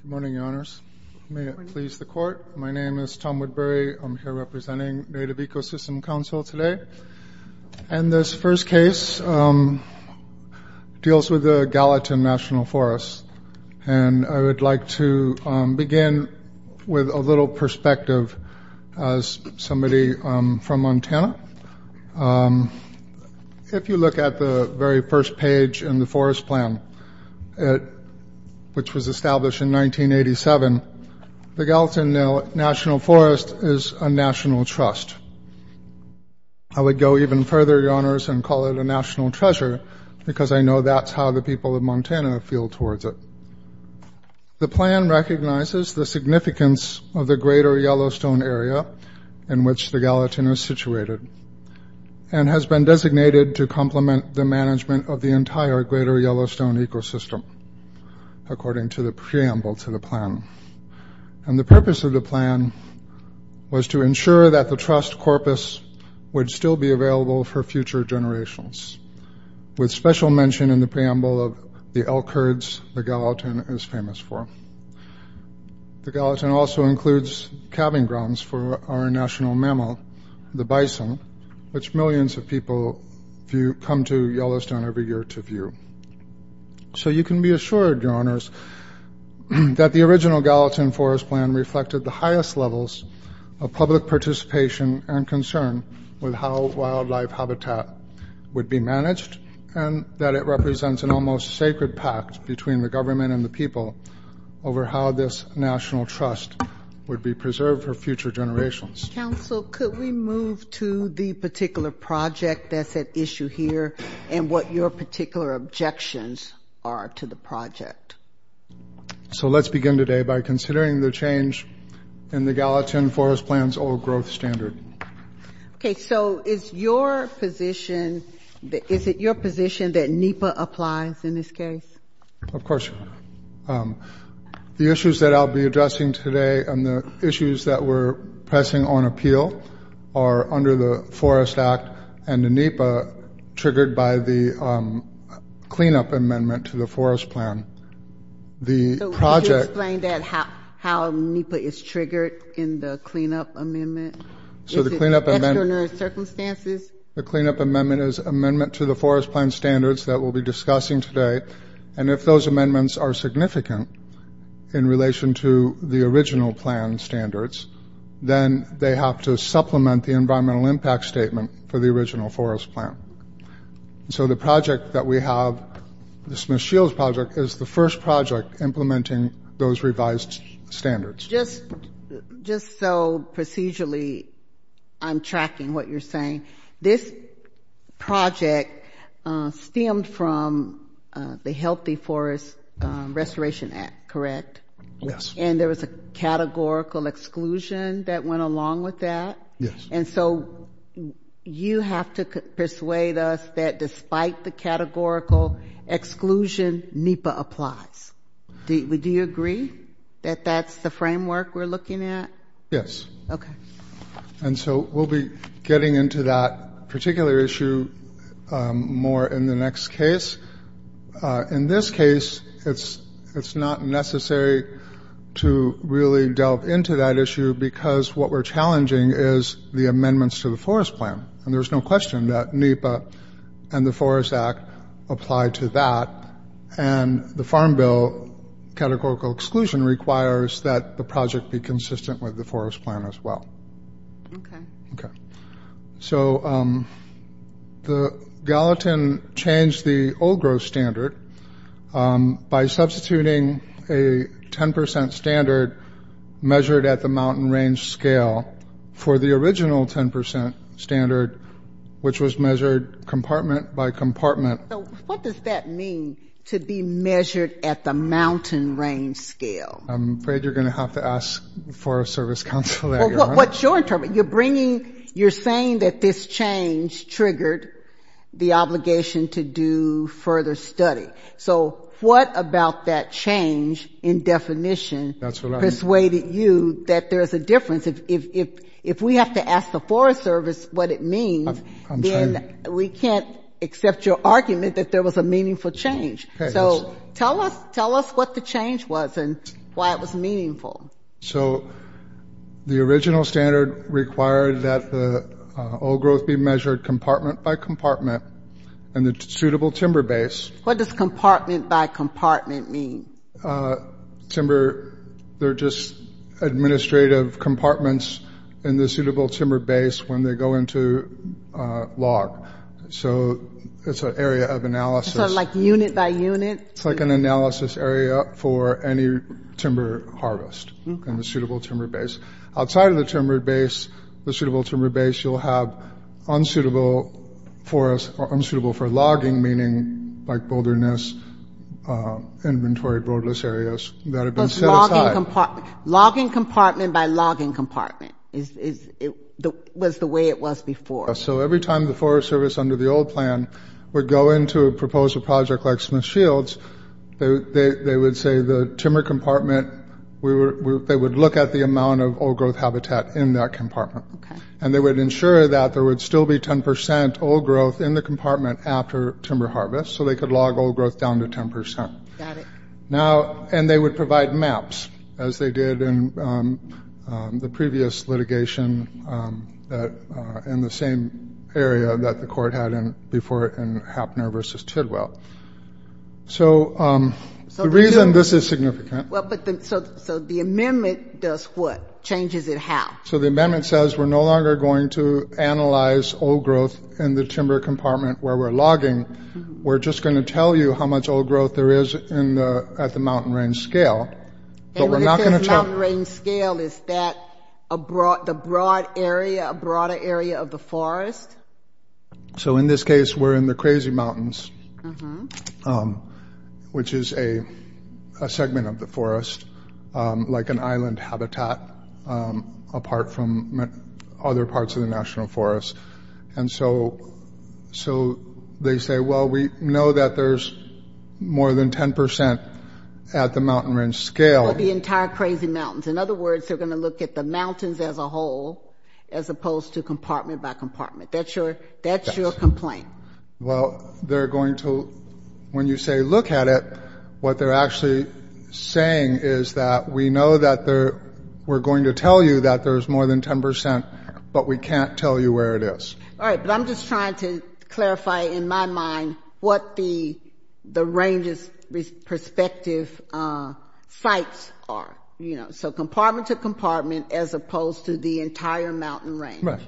Good morning, Your Honors. May it please the Court. My name is Tom Woodbury. I'm here representing Native Ecosystems Council today. And this first case deals with the Gallatin National Forest. And I would like to begin with a little perspective as somebody from Montana. If you look at the very first page in the forest plan, which was established in 1987, the Gallatin National Forest is a national trust. I would go even further, Your Honors, and call it a national treasure because I know that's how the people of Montana feel towards it. The plan recognizes the significance of the greater Yellowstone area in which the Gallatin is situated and has been designated to complement the management of the entire greater Yellowstone ecosystem, according to the preamble to the plan. And the purpose of the plan was to ensure that the trust corpus would still be available for future generations, with special mention in the preamble of the elk herds the Gallatin is famous for. The Gallatin also includes calving grounds for our national mammal, the bison, which millions of people come to Yellowstone every year to view. So you can be assured, Your Honors, that the original Gallatin forest plan reflected the highest levels of public participation and concern with how wildlife habitat would be managed and that it represents an almost sacred pact between the government and the people over how this national trust would be preserved for future generations. Counsel, could we move to the particular project that's at issue here and what your particular objections are to the project? So let's begin today by considering the change in the Gallatin forest plan's old growth standard. Okay, so is it your position that NEPA applies in this case? Of course. The issues that I'll be addressing today and the issues that we're pressing on appeal are under the Forest Act and the NEPA triggered by the cleanup amendment to the forest plan. So could you explain how NEPA is triggered in the cleanup amendment? Is it extraordinary circumstances? The cleanup amendment is amendment to the forest plan standards that we'll be discussing today. And if those amendments are significant in relation to the original plan standards, then they have to supplement the environmental impact statement for the original forest plan. So the project that we have, the Smith-Shields project, is the first project implementing those revised standards. Just so procedurally I'm tracking what you're saying. This project stemmed from the Healthy Forest Restoration Act, correct? Yes. And there was a categorical exclusion that went along with that? Yes. And so you have to persuade us that despite the categorical exclusion, NEPA applies. Do you? And so we'll be getting into that particular issue more in the next case. In this case, it's not necessary to really delve into that issue because what we're challenging is the amendments to the forest plan. And there's no question that NEPA and the Forest Act apply to that. And the Farm Bill categorical exclusion requires that the project be consistent with the forest plan as well. Okay. So the Gallatin changed the old growth standard by substituting a 10 percent standard measured at the mountain range scale for the original 10 percent standard which was measured compartment by compartment. So what does that mean, to be measured at the mountain range scale? I'm afraid you're going to have to ask the Forest Service Counsel there, Your Honor. Well, what's your interpretation? You're bringing, you're saying that this change triggered the obligation to do further study. So what about that change in definition persuaded you that there's a difference? If we have to ask the Forest Service what it means, then we can't accept your argument that there was a meaningful change. So tell us what the change was and why it was meaningful. So the original standard required that the old growth be measured compartment by compartment in the suitable timber base. What does compartment by compartment mean? Timber, they're just administrative compartments in the suitable timber base when they go into log. So it's an area of analysis. So like unit by unit? It's like an analysis area for any timber harvest in the suitable timber base. Outside of the timber base, the suitable timber base, you'll have unsuitable forest or unsuitable for logging, meaning like wilderness, inventory, roadless areas that have been set aside. Logging compartment by logging compartment was the way it was before. So every time the Forest Service under the old plan would go into a proposed project like Smith Shields, they would say the timber compartment, they would look at the amount of old growth habitat in that compartment. And they would ensure that there would still be 10 percent old growth in the compartment after timber harvest, so they could log old growth down to 10 percent. Got it. Now, and they would provide maps, as they did in the previous litigation in the same area that the court had before in Hapner v. Tidwell. So the reason this is significant. Well, so the amendment does what? Changes it how? So the amendment says we're no longer going to analyze old growth in the timber compartment where we're logging. We're just going to tell you how much old growth there is at the mountain range scale. But we're not going to tell you. And when it says mountain range scale, is that a broad area, a broader area of the forest? So in this case, we're in the Crazy Mountains, which is a segment of the forest, like an island habitat apart from other parts of the National Forest. And so they say, well, we are going to look at the mountain range scale. Well, the entire Crazy Mountains. In other words, they're going to look at the mountains as a whole, as opposed to compartment by compartment. That's your complaint. Well, they're going to, when you say look at it, what they're actually saying is that we know that we're going to tell you that there's more than 10 percent, but we can't tell you where it is. All right. But I'm just trying to clarify in my mind what the range's perspective is and what the sites are, you know. So compartment to compartment as opposed to the entire mountain range. Right.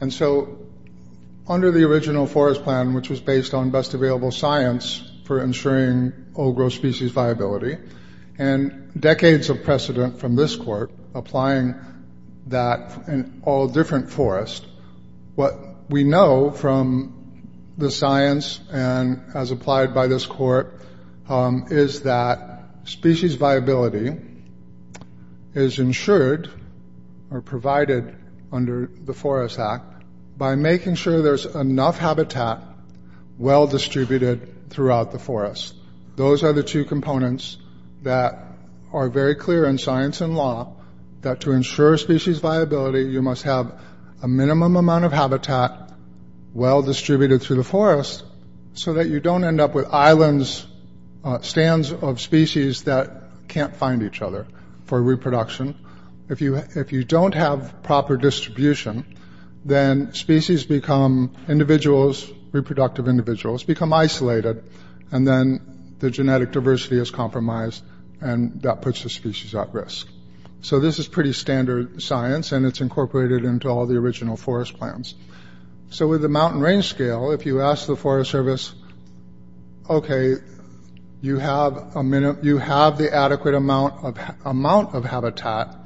And so under the original forest plan, which was based on best available science for ensuring old growth species viability, and decades of precedent from this court applying that in all different forests, what we know from the science and as applied by this court is that species viability is ensured or provided under the Forest Act by making sure there's enough habitat well distributed throughout the forest. Those are the two components that are very clear in science and law that to ensure species viability, you must have a minimum amount of habitat well distributed through the forest so that you don't end up with islands, stands of species that can't find each other for reproduction. If you don't have proper distribution, then species become individuals, reproductive individuals, become isolated and then the genetic diversity is compromised and that puts the species at risk. So this is pretty standard science and it's incorporated into all the original forest plans. So with the mountain range scale, if you ask the Forest Service, okay, you have the adequate amount of habitat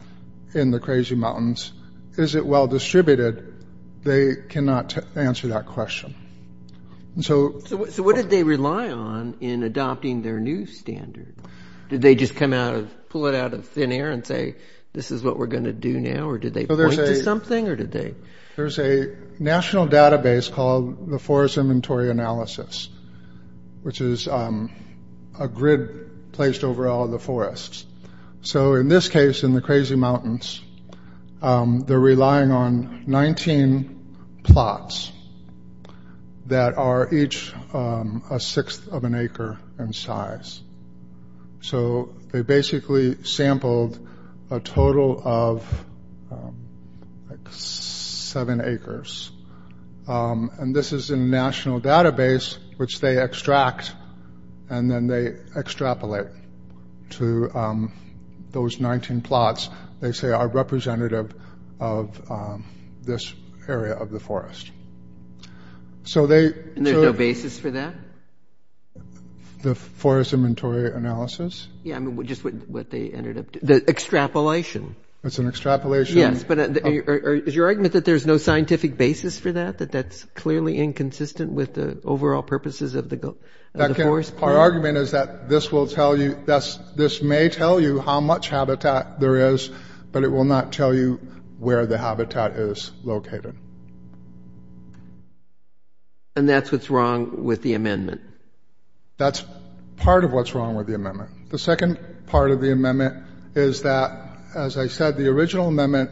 in the Crazy Mountains, is it well distributed? They cannot answer that question. So what did they rely on in adopting their new standard? Did they just come out and pull it out of thin air and say, this is what we're going to do now? Or did they point to something or did they? There's a national database called the Forest Inventory Analysis, which is a grid placed over all of the forests. So in this case, in the Crazy Mountains, they're relying on 19 plots that are each a sixth of an acre in size. So they basically sampled a total of like seven acres. And this is a national database, which they extract and then they extrapolate to those 19 plots. They say are representative of this area of the forest. So they- And there's no basis for that? The Forest Inventory Analysis? Yeah, I mean, just what they ended up doing. The extrapolation. It's an extrapolation. Yes, but is your argument that there's no scientific basis for that? That that's clearly inconsistent with the overall purposes of the forest? Our argument is that this will tell you, this may tell you how much habitat there is, but it will not tell you where the habitat is located. And that's what's wrong with the amendment? That's part of what's wrong with the amendment. The second part of the amendment is that, as I said, the original amendment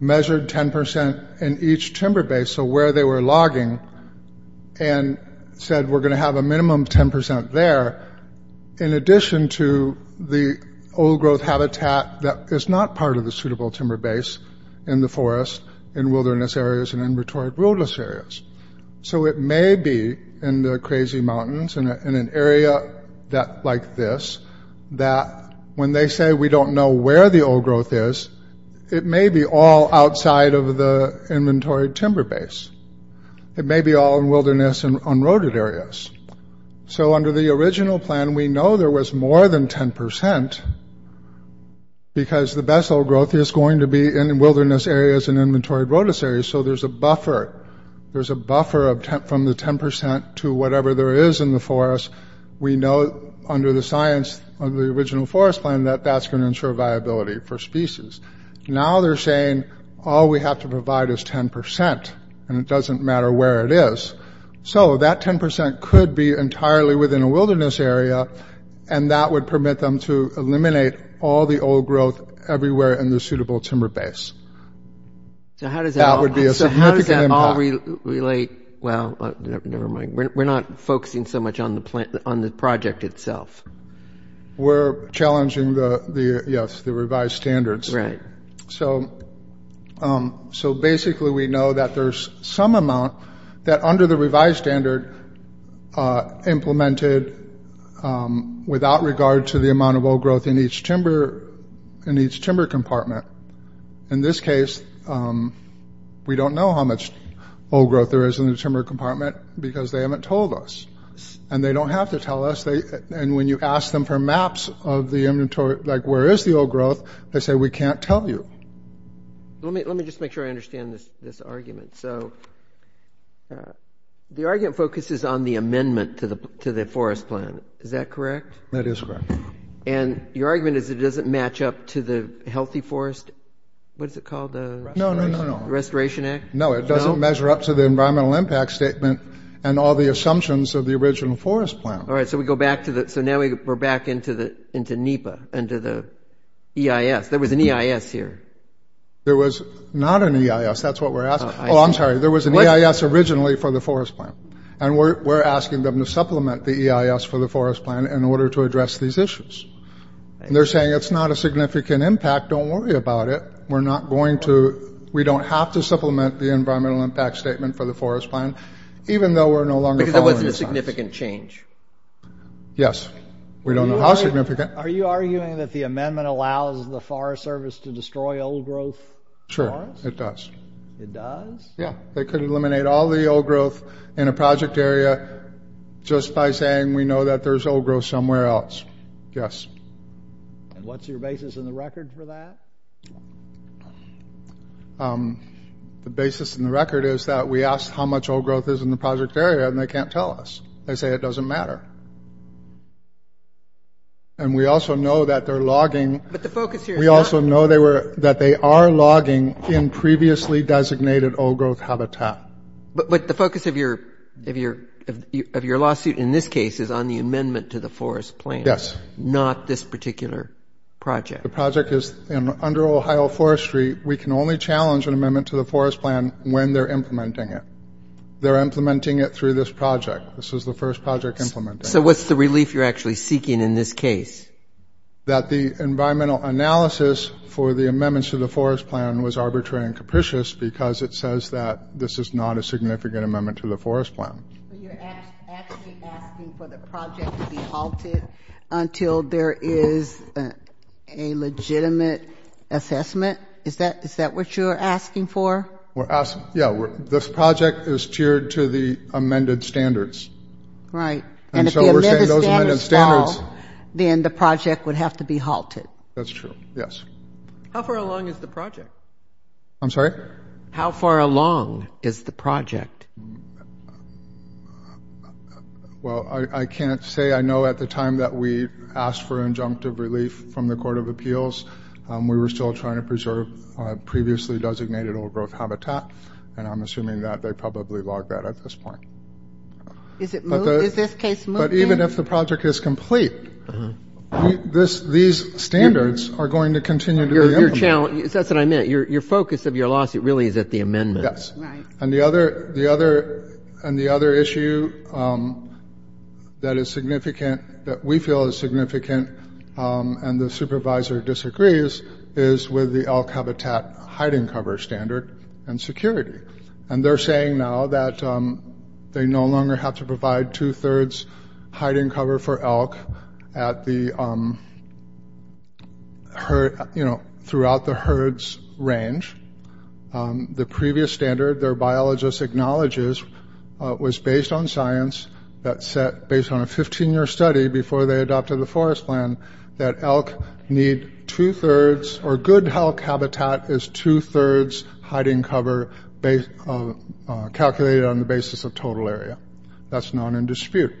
measured 10% in each timber base, so where they were logging, and said we're going to have a minimum 10% there, in addition to the old growth habitat that is not part of the suitable timber base in the forest, in wilderness areas, and in the crazy mountains, in an area like this, that when they say we don't know where the old growth is, it may be all outside of the inventory timber base. It may be all in wilderness and unroaded areas. So under the original plan, we know there was more than 10%, because the best old growth is going to be in wilderness areas and inventory rotus areas, so there's a buffer. There's a buffer from the 10% to whatever there is in the forest. We know under the science of the original forest plan that that's going to ensure viability for species. Now they're saying all we have to provide is 10%, and it doesn't matter where it is. So that 10% could be entirely within a wilderness area, and that would permit them to eliminate all the old growth everywhere in the suitable timber base. So how does that all relate? Well, never mind. We're not focusing so much on the project itself. We're challenging the revised standards. So basically we know that there's some amount that under the revised standard implemented without regard to the amount of old growth in each timber compartment. In this case, we don't know how much old growth there is in the timber compartment, because they haven't told us. And they don't have to tell us. And when you ask them for maps of the inventory, like where is the old growth, they say we can't tell you. Let me just make sure I understand this argument. So the argument focuses on the amendment to the forest plan. Is that correct? That is correct. And your argument is it doesn't match up to the Healthy Forest, what is it called? No, no, no. The Restoration Act? No, it doesn't measure up to the environmental impact statement and all the assumptions of the original forest plan. All right. So we go back to the, so now we're back into NEPA, into the EIS. There was an EIS here. There was not an EIS. That's what we're asking. Oh, I'm sorry. There was an EIS originally for the forest plan. And we're asking them to supplement the EIS for the forest plan in order to address these issues. And they're saying it's not a significant impact. Don't worry about it. We're not going to, we don't have to supplement the environmental impact statement for the forest plan, even though we're no longer following the science. Because there wasn't a significant change. Yes. We don't know how significant. Are you arguing that the amendment allows the Forest Service to destroy old growth forests? Sure, it does. It does? Yeah. They could eliminate all the old growth in a project area just by saying we know that there's old growth somewhere else. Yes. And what's your basis in the record for that? The basis in the record is that we asked how much old growth is in the project area, and they can't tell us. They say it doesn't matter. And we also know that they're logging. But the focus here is not. We also know that they are logging in previously designated old growth habitat. But the focus of your lawsuit in this case is on the amendment to the forest plan. Yes. Not this particular project. The project is under Ohio Forestry. We can only challenge an amendment to the forest plan when they're implementing it. They're implementing it through this project. This is the first project implemented. So what's the relief you're actually seeking in this case? That the environmental analysis for the amendments to the forest plan was arbitrary and capricious because it says that this is not a significant amendment to the forest plan. But you're actually asking for the project to be halted until there is a legitimate assessment? Is that what you're asking for? Yeah. This project is tiered to the amended standards. Right. And if the amended standards fall, then the project would have to be halted. That's true. Yes. How far along is the project? I'm sorry? How far along is the project? Well, I can't say. I know at the time that we asked for injunctive relief from the Court of Appeals, we were still trying to preserve previously designated old growth habitat, and I'm assuming that they probably logged that at this point. Is it moved? Is this case moved then? But even if the project is complete, these standards are going to continue to be implemented. That's what I meant. Your focus of your lawsuit really is at the amendment. Yes. Right. And the other issue that is significant, that we feel is significant, and the supervisor disagrees is with the elk habitat hiding cover standard and security. And they're saying now that they no longer have to provide two-thirds hiding cover for elk at the herd, you know, throughout the herd's range. The previous standard their biologist acknowledges was based on science that set based on a 15-year study before they adopted the forest plan that elk need two-thirds or good elk habitat is two-thirds hiding cover calculated on the basis of total area. That's not in dispute.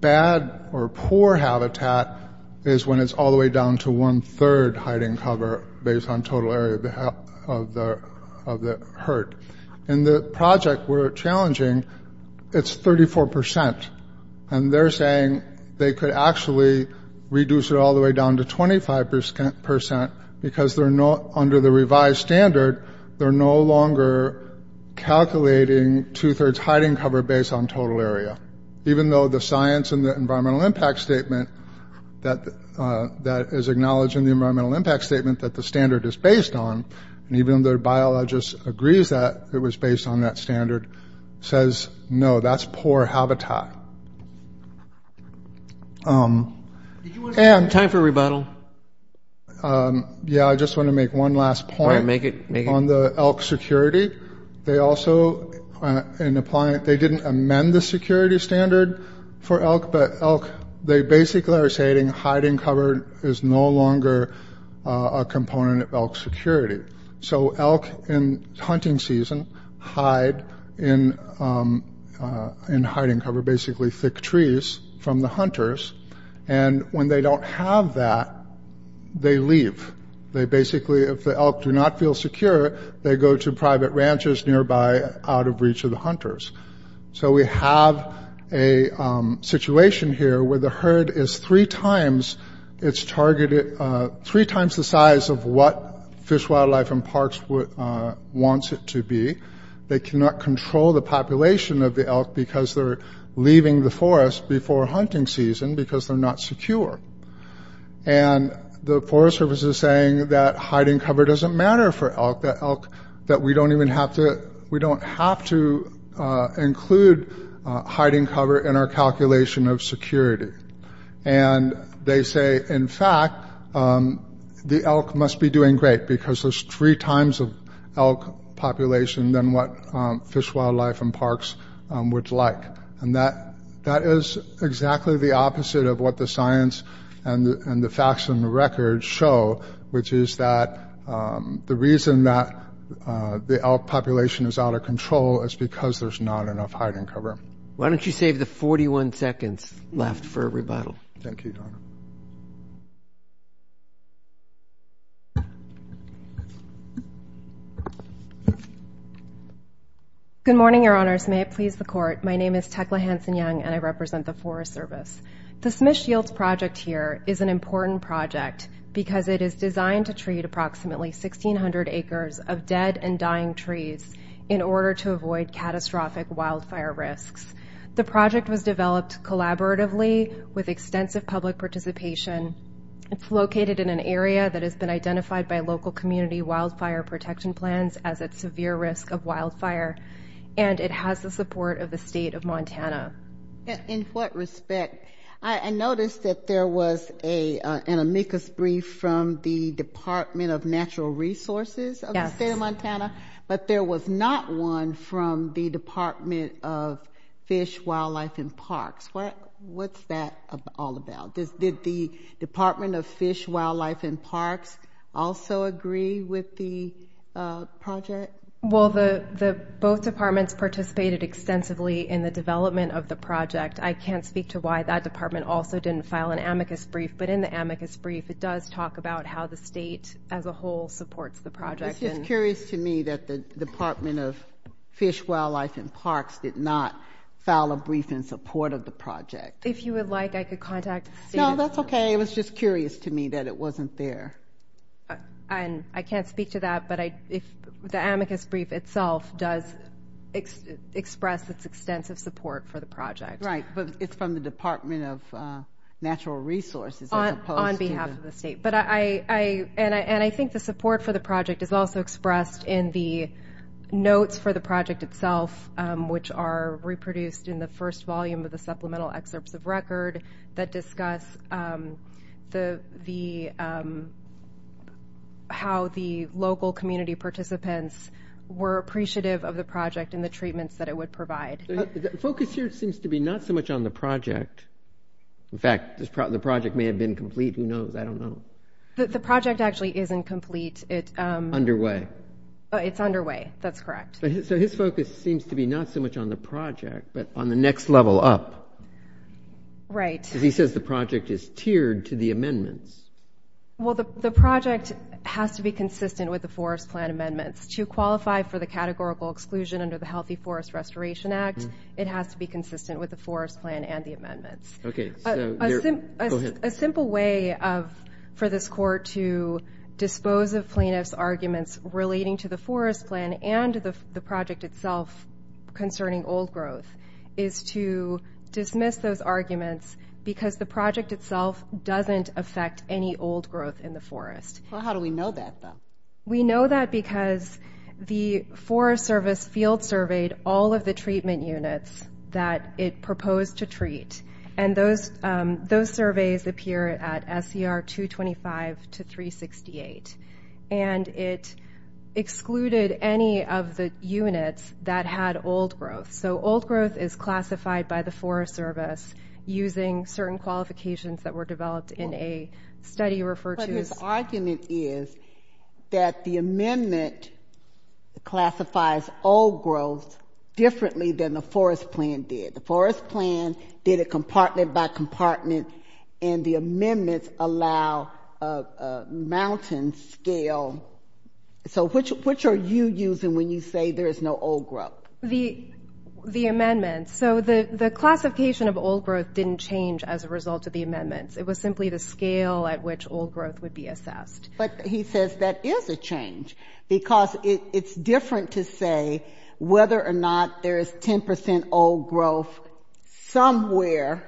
Bad or poor habitat is when it's all the way down to one-third hiding cover based on total area of the herd. In the project we're challenging, it's 34%. And they're saying they could actually reduce it all the way down to 25% because under the revised standard, they're no longer calculating two-thirds hiding cover based on total area, even though the science and the environmental impact statement that is acknowledged in the environmental impact statement that the standard is based on, and even though the biologist agrees that it was based on that standard, says no, that's poor habitat. Time for a rebuttal. Yeah, I just want to make one last point on the elk security. They also didn't amend the security standard for elk, but they basically are stating hiding cover is no longer a component of elk security. So elk in hunting season hide in hiding cover, basically thick trees from the hunters, and when they don't have that, they leave. They basically, if the elk do not feel secure, they go to private ranches nearby out of reach of the hunters. So we have a situation here where the herd is three times the size of what Fish, Wildlife, and Parks wants it to be. They cannot control the population of the elk because they're leaving the forest before hunting season because they're not secure. And the Forest Service is saying that hiding cover doesn't matter for elk, that we don't have to include hiding cover in our calculation of security. And they say, in fact, the elk must be doing great because there's three times of elk population than what Fish, Wildlife, and Parks would like. And that is exactly the opposite of what the science and the facts and the records show, which is that the reason that the elk population is out of control is because there's not enough hiding cover. Why don't you save the 41 seconds left for a rebuttal? Thank you, Your Honor. Good morning, Your Honors. May it please the Court. My name is Tecla Hanson-Young, and I represent the Forest Service. The Smish Yields Project here is an important project because it is designed to treat approximately 1,600 acres of dead and dying trees in order to avoid catastrophic wildfire risks. The project was developed collaboratively with extensive public participation. It's located in an area that has been identified by local community wildfire protection plans as at severe risk of wildfire, and it has the support of the State of Montana. In what respect? I noticed that there was an amicus brief from the Department of Natural Resources of the State of Montana, but there was not one from the Department of Fish, Wildlife, and Parks. What's that all about? Did the Department of Fish, Wildlife, and Parks also agree with the project? Well, both departments participated extensively in the development of the project. I can't speak to why that department also didn't file an amicus brief, but in the amicus brief, it does talk about how the state as a whole supports the project. It's just curious to me that the Department of Fish, Wildlife, and Parks did not file a brief in support of the project. If you would like, I could contact the State of Montana. No, that's okay. It was just curious to me that it wasn't there. I can't speak to that, but the amicus brief itself does express its extensive support for the project. Right, but it's from the Department of Natural Resources as opposed to the State. On behalf of the state. And I think the support for the project is also expressed in the notes for the project itself, which are reproduced in the first volume of the supplemental excerpts of record that discuss how the local community participants were appreciative of the project and the treatments that it would provide. The focus here seems to be not so much on the project. In fact, the project may have been complete. Who knows? I don't know. The project actually isn't complete. It's underway. It's underway. That's correct. So his focus seems to be not so much on the project, but on the next level up. Right. Because he says the project is tiered to the amendments. Well, the project has to be consistent with the forest plan amendments. To qualify for the categorical exclusion under the Healthy Forest Restoration Act, it has to be consistent with the forest plan and the amendments. A simple way for this court to dispose of plaintiff's arguments relating to the forest plan and the project itself concerning old growth is to dismiss those arguments because the project itself doesn't affect any old growth in the forest. How do we know that, though? We know that because the Forest Service field surveyed all of the treatment units that it proposed to treat. And those surveys appear at SCR 225 to 368. And it excluded any of the units that had old growth. So old growth is classified by the Forest Service using certain qualifications that were developed in a study referred to as ‑‑ that the amendment classifies old growth differently than the forest plan did. The forest plan did it compartment by compartment, and the amendments allow a mountain scale. So which are you using when you say there is no old growth? The amendments. So the classification of old growth didn't change as a result of the amendments. It was simply the scale at which old growth would be assessed. But he says that is a change because it's different to say whether or not there is 10 percent old growth somewhere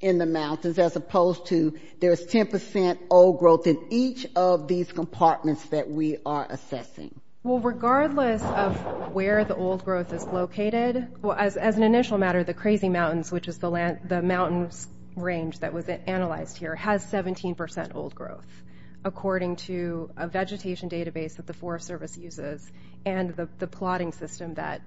in the mountains as opposed to there is 10 percent old growth in each of these compartments that we are assessing. Well, regardless of where the old growth is located, as an initial matter, the Crazy Mountains, which is the mountain range that was According to a vegetation database that the Forest Service uses and the plotting system that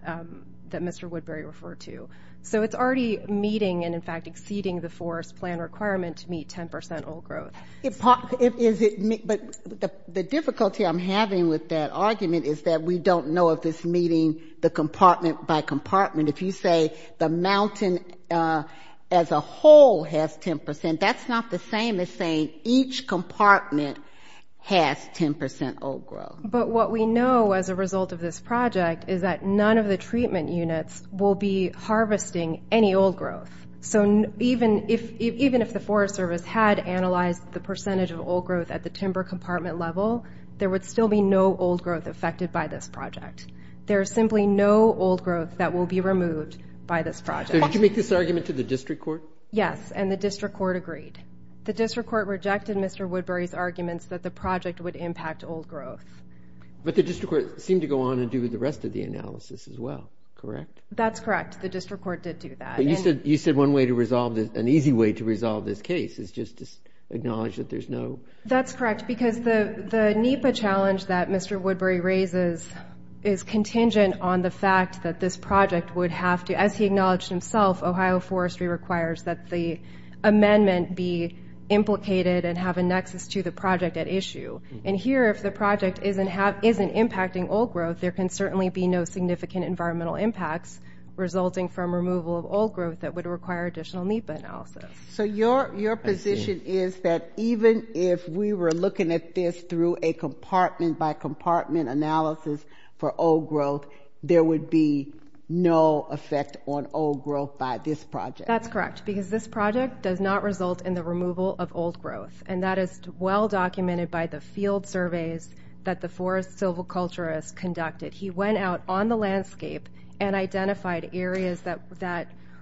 Mr. Woodbury referred to. So it's already meeting and, in fact, exceeding the forest plan requirement to meet 10 percent old growth. But the difficulty I'm having with that argument is that we don't know if it's meeting the compartment by compartment. If you say the mountain as a whole has 10 percent, that's not the same as saying each compartment has 10 percent old growth. But what we know as a result of this project is that none of the treatment units will be harvesting any old growth. So even if the Forest Service had analyzed the percentage of old growth at the timber compartment level, there would still be no old growth affected by this project. There is simply no old growth that will be removed by this project. Did you make this argument to the district court? Yes, and the district court agreed. The district court rejected Mr. Woodbury's arguments that the project would impact old growth. But the district court seemed to go on and do the rest of the analysis as well, correct? That's correct. The district court did do that. You said one way to resolve this, an easy way to resolve this case is just to acknowledge that there's no That's correct, because the NEPA challenge that Mr. Woodbury raises is contingent on the fact that this project would have to, as he acknowledged himself, Ohio Forestry requires that the amendment be implicated and have a nexus to the project at issue. And here, if the project isn't impacting old growth, there can certainly be no significant environmental impacts resulting from removal of old growth that would require additional NEPA analysis. So your position is that even if we were looking at this through a compartment-by-compartment analysis for old growth, there would be no effect on old growth by this project? That's correct, because this project does not result in the removal of old growth, and that is well documented by the field surveys that the forest silviculturists conducted. He went out on the landscape and identified areas that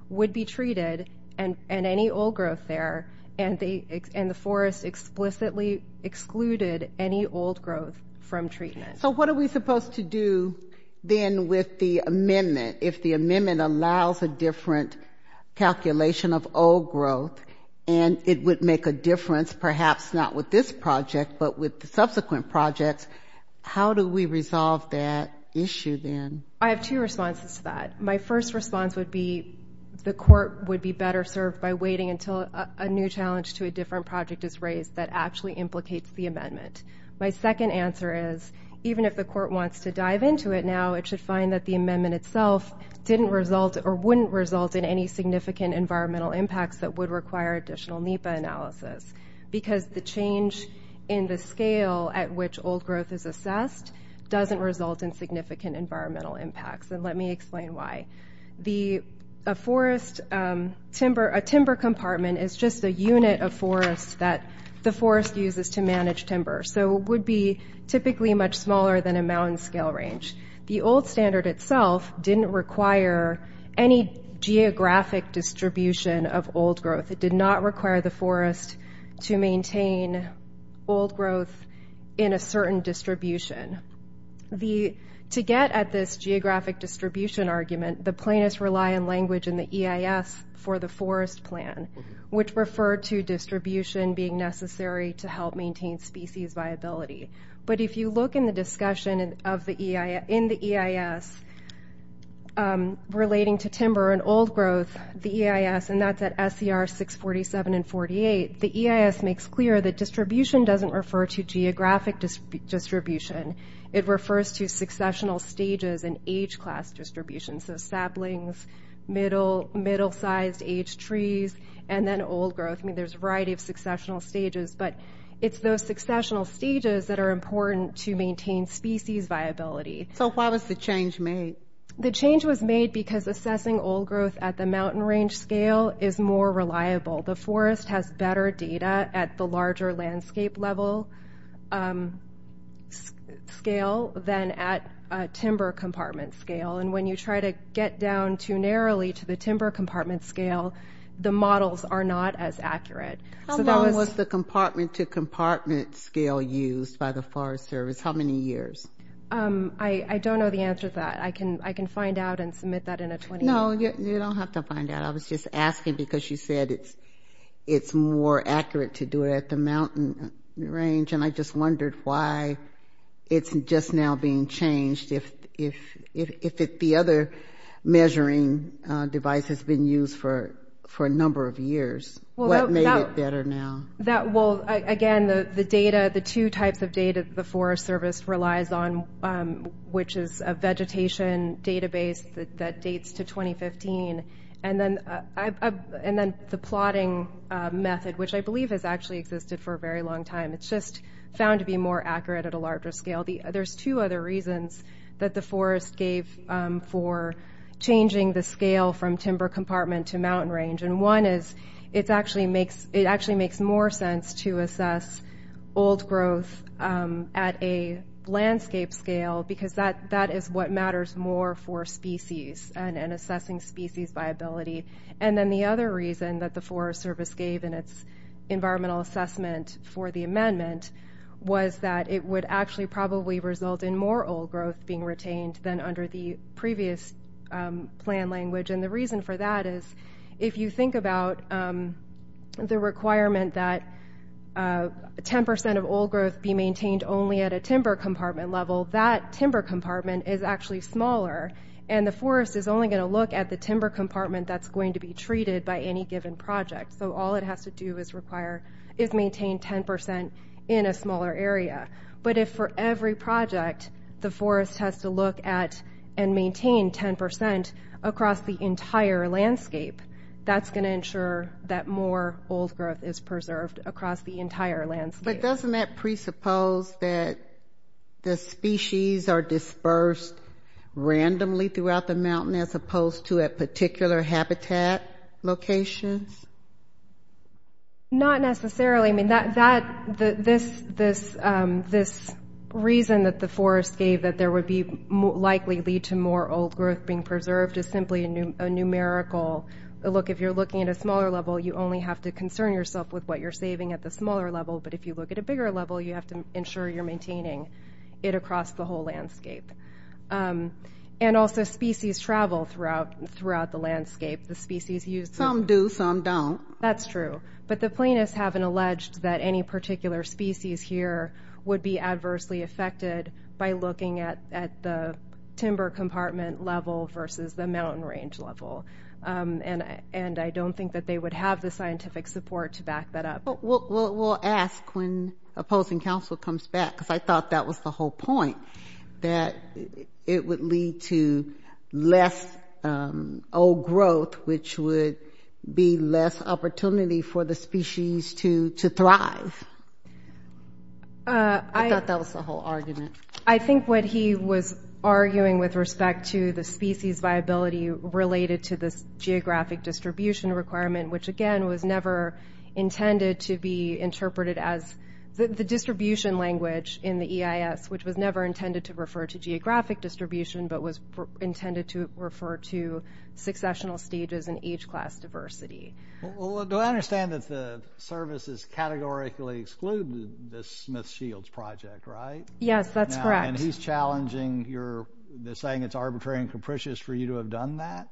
would be treated and any old growth there, and the forest explicitly excluded any old growth from treatment. So what are we supposed to do then with the amendment? If the amendment allows a different calculation of old growth and it would make a difference, perhaps not with this project, but with the subsequent projects, how do we resolve that issue then? I have two responses to that. My first response would be the court would be better served by waiting until a new challenge to a different project is raised that actually implicates the amendment. My second answer is even if the court wants to dive into it now, it should find that the amendment itself didn't result or wouldn't result in any significant environmental impacts that would require additional NEPA analysis, because the change in the scale at which old growth is assessed doesn't result in significant environmental impacts, and let me explain why. A timber compartment is just a unit of forest that the forest uses to manage timber, so it would be typically much smaller than a mountain scale range. The old standard itself didn't require any geographic distribution of old growth. It did not require the forest to maintain old growth in a certain distribution. To get at this geographic distribution argument, the plaintiffs rely on language in the EIS for the forest plan, which referred to distribution being necessary to help maintain species viability. But if you look in the discussion in the EIS relating to timber and old growth, the EIS, and that's at SCR 647 and 48, the EIS makes clear that distribution doesn't refer to geographic distribution. It refers to successional stages in age class distribution, so saplings, middle-sized age trees, and then old growth. There's a variety of successional stages, but it's those successional stages that are important to maintain species viability. So why was the change made? The change was made because assessing old growth at the mountain range scale is more reliable. The forest has better data at the larger landscape level scale than at a timber compartment scale, and when you try to get down too narrowly to the timber compartment scale, the models are not as accurate. How long was the compartment-to-compartment scale used by the Forest Service? How many years? I don't know the answer to that. I can find out and submit that in a 20-minute... No, you don't have to find out. I was just asking because you said it's more accurate to do it at the mountain range, and I just wondered why it's just now being changed. If the other measuring device has been used for a number of years, what made it better now? Well, again, the two types of data the Forest Service relies on, which is a vegetation database that dates to 2015, and then the plotting method, which I believe has actually existed for a very long time. It's just found to be more accurate at a larger scale. There's two other reasons that the Forest gave for changing the scale from timber compartment to mountain range, and one is it actually makes more sense to assess old growth at a landscape scale because that is what matters more for species and assessing species viability. And then the other reason that the Forest Service gave in its environmental assessment for the amendment was that it would actually probably result in more old growth being retained than under the previous plan language, and the reason for that is if you think about the requirement that 10% of old growth be maintained only at a timber compartment level, that timber compartment is actually smaller, and the forest is only going to look at the timber compartment that's going to be treated by any given project, so all it has to do is maintain 10% in a smaller area. But if for every project the forest has to look at and maintain 10% across the entire landscape, that's going to ensure that more old growth is preserved across the entire landscape. But doesn't that presuppose that the species are dispersed randomly throughout the mountain as opposed to at particular habitat locations? Not necessarily. I mean, this reason that the Forest gave that there would likely lead to more old growth being preserved is simply a numerical look. If you're looking at a smaller level, you only have to concern yourself with what you're saving at the smaller level, but if you look at a bigger level, you have to ensure you're maintaining it across the whole landscape. And also species travel throughout the landscape. Some do, some don't. That's true. But the planists haven't alleged that any particular species here would be adversely affected by looking at the timber compartment level versus the mountain range level, and I don't think that they would have the scientific support to back that up. We'll ask when opposing counsel comes back, because I thought that was the whole point, that it would lead to less old growth, which would be less opportunity for the species to thrive. I thought that was the whole argument. I think what he was arguing with respect to the species viability related to this geographic distribution requirement, which, again, was never intended to be interpreted as the distribution language in the EIS, which was never intended to refer to geographic distribution, but was intended to refer to successional stages in age class diversity. Well, do I understand that the services categorically exclude the Smith Shields project, right? Yes, that's correct. And he's challenging your saying it's arbitrary and capricious for you to have done that?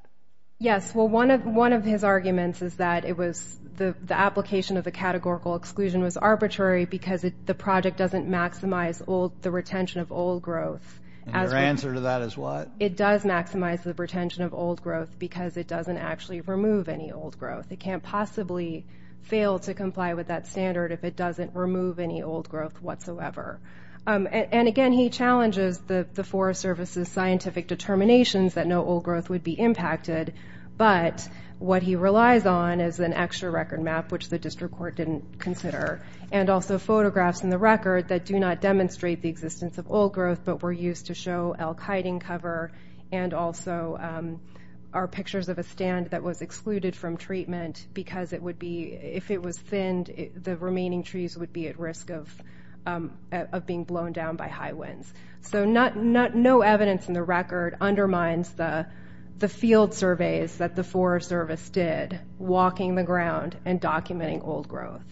Yes. Well, one of his arguments is that it was the application of the categorical exclusion was arbitrary because the project doesn't maximize the retention of old growth. And your answer to that is what? It does maximize the retention of old growth because it doesn't actually remove any old growth. It can't possibly fail to comply with that standard if it doesn't remove any old growth whatsoever. And, again, he challenges the Forest Service's scientific determinations that no old growth would be impacted, but what he relies on is an extra record map, which the district court didn't consider, and also photographs in the record that do not demonstrate the existence of old growth but were used to show elk hiding cover and also are pictures of a stand that was excluded from treatment because if it was thinned, the remaining trees would be at risk of being blown down by high winds. So no evidence in the record undermines the field surveys that the Forest Service did, walking the ground and documenting old growth.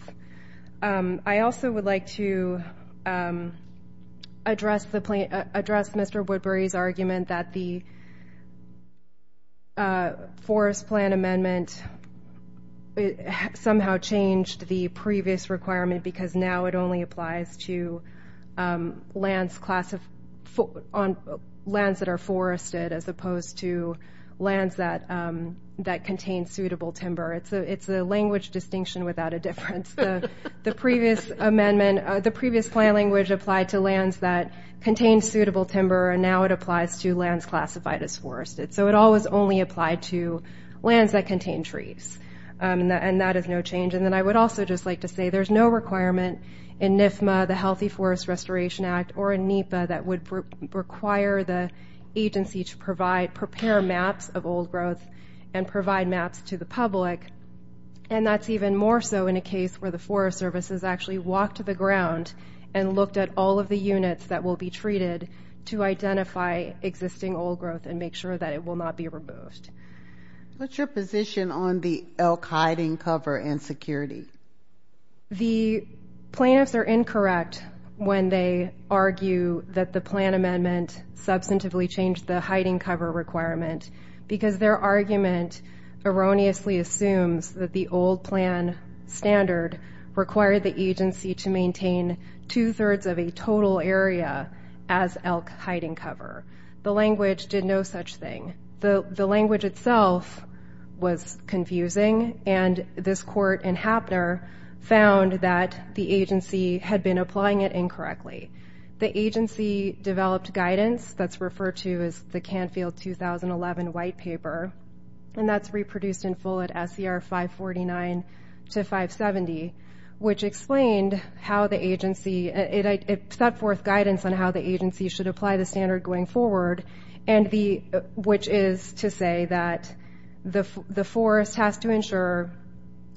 I also would like to address Mr. Woodbury's argument that the forest plan amendment somehow changed the previous requirement because now it only applies to lands that are forested as opposed to lands that contain suitable timber. It's a language distinction without a difference. The previous plan language applied to lands that contained suitable timber, and now it applies to lands classified as forested. So it always only applied to lands that contained trees, and that is no change. And then I would also just like to say there's no requirement in NFMA, the Healthy Forest Restoration Act, or in NEPA that would require the agency to prepare maps of old growth and provide maps to the public and that's even more so in a case where the Forest Service has actually walked to the ground and looked at all of the units that will be treated to identify existing old growth and make sure that it will not be removed. What's your position on the elk hiding cover and security? The plaintiffs are incorrect when they argue that the plan amendment substantively changed the hiding cover requirement because their argument erroneously assumes that the old plan standard required the agency to maintain two-thirds of a total area as elk hiding cover. The language did no such thing. The language itself was confusing, and this court in Hapner found that the agency had been applying it incorrectly. The agency developed guidance that's referred to as the Canfield 2011 White Paper, and that's reproduced in full at SCR 549 to 570, which explained how the agency – it set forth guidance on how the agency should apply the standard going forward, which is to say that the forest has to ensure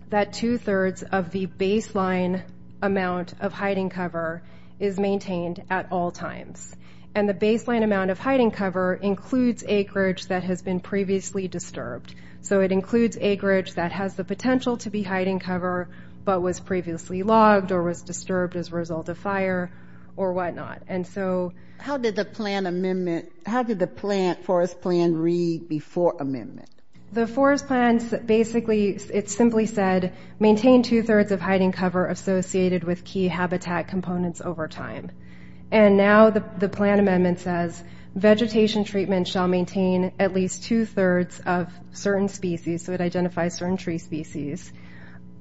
that two-thirds of the baseline amount of hiding cover is maintained at all times. And the baseline amount of hiding cover includes acreage that has been previously disturbed. So it includes acreage that has the potential to be hiding cover but was previously logged or was disturbed as a result of fire or whatnot. How did the forest plan read before amendment? The forest plan basically, it simply said, maintain two-thirds of hiding cover associated with key habitat components over time. And now the plan amendment says vegetation treatment shall maintain at least two-thirds of certain species – so it identifies certain tree species –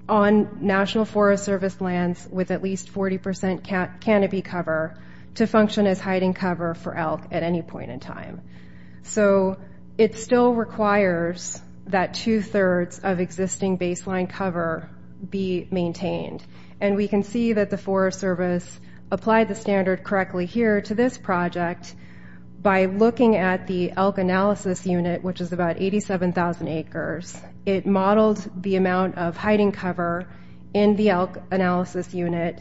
on National Forest Service lands with at least 40% canopy cover to function as hiding cover for elk at any point in time. So it still requires that two-thirds of existing baseline cover be maintained. And we can see that the Forest Service applied the standard correctly here to this project by looking at the elk analysis unit, which is about 87,000 acres. It modeled the amount of hiding cover in the elk analysis unit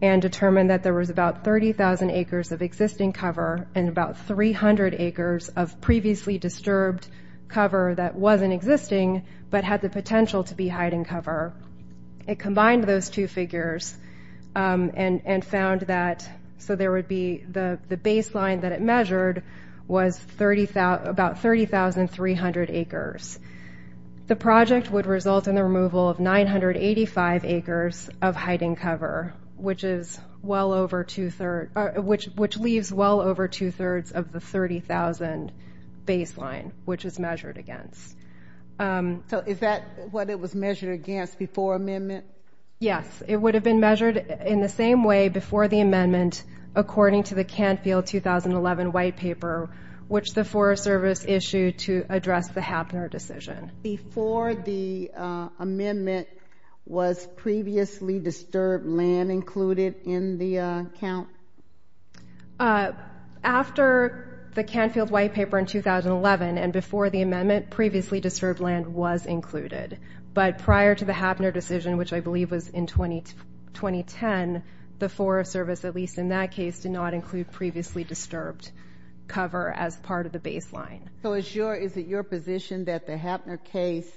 and determined that there was about 30,000 acres of existing cover and about 300 acres of previously disturbed cover that wasn't existing but had the potential to be hiding cover. It combined those two figures and found that – so there would be – the baseline that it measured was about 30,300 acres. The project would result in the removal of 985 acres of hiding cover, which is well over two-thirds – which leaves well over two-thirds of the 30,000 baseline, which is measured against. So is that what it was measured against before amendment? Yes. It would have been measured in the same way before the amendment according to the Canfield 2011 white paper, which the Forest Service issued to address the Happner decision. Before the amendment, was previously disturbed land included in the count? After the Canfield white paper in 2011 and before the amendment, previously disturbed land was included. But prior to the Happner decision, which I believe was in 2010, the Forest Service, at least in that case, did not include previously disturbed cover as part of the baseline. So is it your position that the Happner case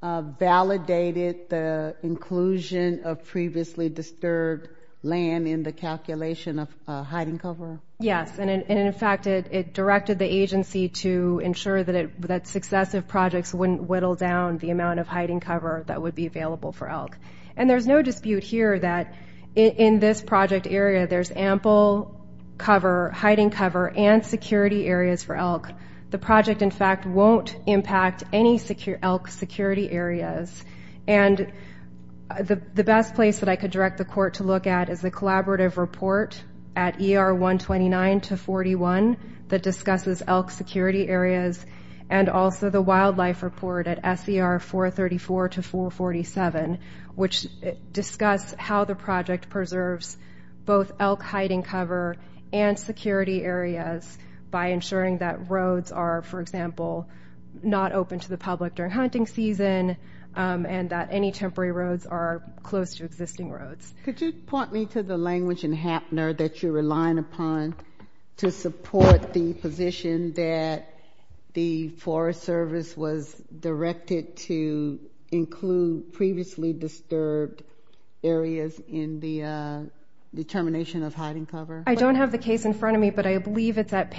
validated the inclusion of previously disturbed land in the calculation of hiding cover? Yes. And, in fact, it directed the agency to ensure that successive projects wouldn't whittle down the amount of hiding cover that would be available for elk. And there's no dispute here that in this project area, there's ample cover, hiding cover, and security areas for elk. The project, in fact, won't impact any elk security areas. And the best place that I could direct the court to look at is the collaborative report at ER 129 to 41 that discusses elk security areas and also the wildlife report at SER 434 to 447, which discuss how the project preserves both elk hiding cover and security areas by ensuring that roads are, for example, not open to the public during hunting season and that any temporary roads are close to existing roads. Could you point me to the language in Happner that you're relying upon to support the position that the Forest Service was directed to include previously disturbed areas in the determination of hiding cover? I don't have the case in front of me, but I believe it's at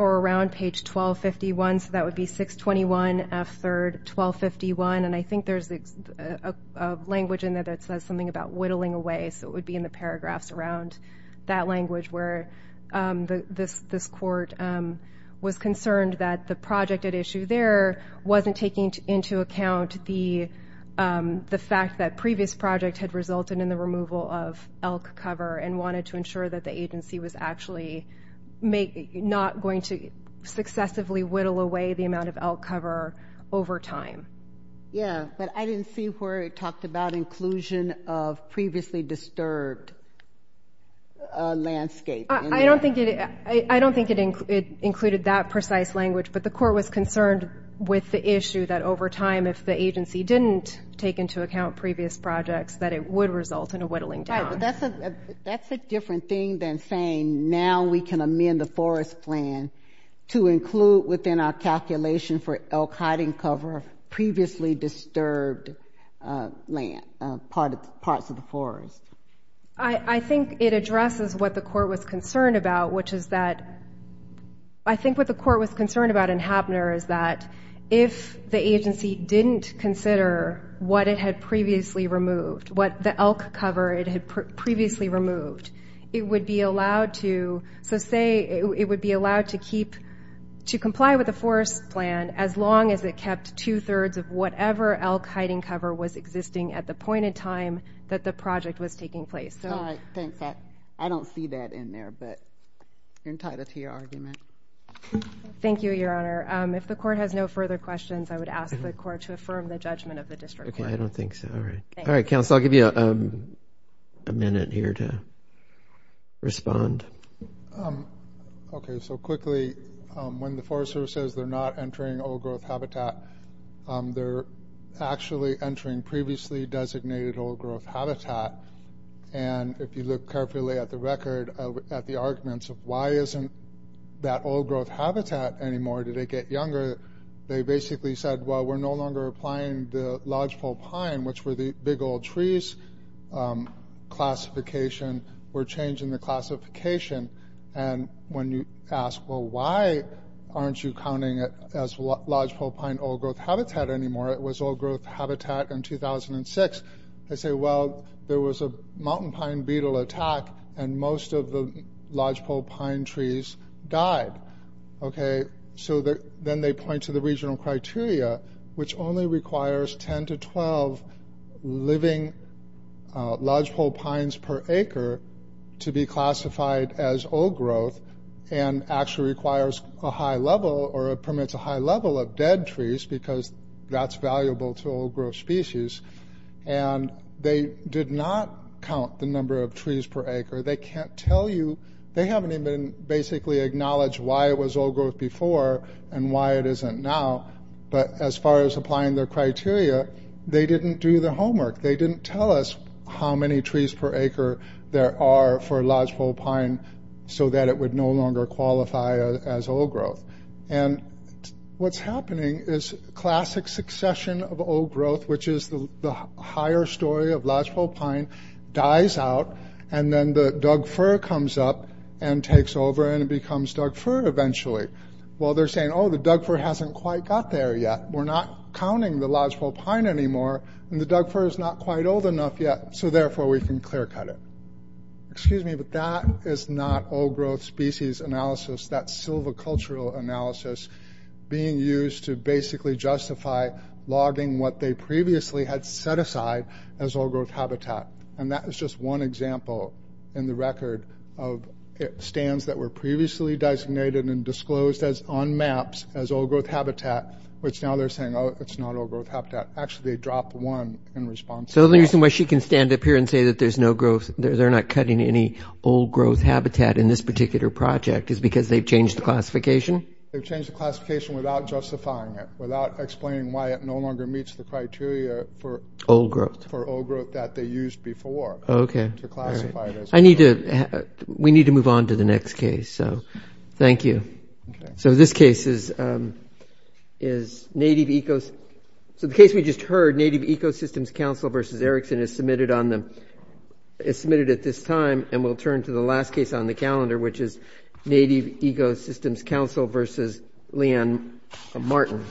or around page 1251, so that would be 621 F. 3rd, 1251. And I think there's a language in there that says something about whittling away, so it would be in the paragraphs around that language where this court was concerned that the project at issue there wasn't taking into account the fact that previous project had resulted in the removal of elk cover and wanted to ensure that the agency was actually not going to successively whittle away the amount of elk cover over time. Yeah, but I didn't see where it talked about inclusion of previously disturbed landscape. I don't think it included that precise language, but the court was concerned with the issue that over time, if the agency didn't take into account previous projects, that it would result in a whittling down. Right, but that's a different thing than saying now we can amend the forest plan to include within our calculation for elk hiding cover previously disturbed land, parts of the forest. I think it addresses what the court was concerned about, which is that I think what the court was concerned about in Happner is that if the agency didn't consider what it had previously removed, what the elk cover it had previously removed, it would be allowed to, so say it would be allowed to comply with the forest plan as long as it kept two-thirds of whatever elk hiding cover was existing at the point in time that the project was taking place. All right, thanks. I don't see that in there, but you're entitled to your argument. Thank you, Your Honor. If the court has no further questions, I would ask the court to affirm the judgment of the district. Okay, I don't think so. All right. All right, counsel, I'll give you a minute here to respond. Okay, so quickly, when the Forest Service says they're not entering old-growth habitat, they're actually entering previously designated old-growth habitat. And if you look carefully at the record, at the arguments of why isn't that old-growth habitat anymore? Did it get younger? They basically said, well, we're no longer applying the lodgepole pine, which were the big old trees classification. We're changing the classification. And when you ask, well, why aren't you counting it as lodgepole pine old-growth habitat anymore? It was old-growth habitat in 2006. They say, well, there was a mountain pine beetle attack, and most of the lodgepole pine trees died. Okay, so then they point to the regional criteria, which only requires 10 to 12 living lodgepole pines per acre to be classified as old-growth and actually requires a high level or permits a high level of dead trees, because that's valuable to old-growth species. And they did not count the number of trees per acre. They can't tell you. They haven't even basically acknowledged why it was old-growth before and why it isn't now. But as far as applying their criteria, they didn't do the homework. They didn't tell us how many trees per acre there are for lodgepole pine so that it would no longer qualify as old-growth. And what's happening is classic succession of old-growth, which is the higher story of lodgepole pine, dies out. And then the doug fir comes up and takes over, and it becomes doug fir eventually. Well, they're saying, oh, the doug fir hasn't quite got there yet. We're not counting the lodgepole pine anymore, and the doug fir is not quite old enough yet, so therefore we can clear-cut it. Excuse me, but that is not old-growth species analysis. That's silvicultural analysis being used to basically justify logging what they previously had set aside as old-growth habitat. And that is just one example in the record of stands that were previously designated and disclosed as on maps as old-growth habitat, which now they're saying, oh, it's not old-growth habitat. Actually, they dropped one in response to that. So the reason why she can stand up here and say that there's no growth – they're not cutting any old-growth habitat in this particular project is because they've changed the classification? They've changed the classification without justifying it, without explaining why it no longer meets the criteria for old-growth that they used before to classify it as old-growth. I need to – we need to move on to the next case, so thank you. So this case is native – so the case we just heard, Native Ecosystems Council versus Erickson, is submitted on the – is submitted at this time, and we'll turn to the last case on the calendar, which is Native Ecosystems Council versus Leanne Martin.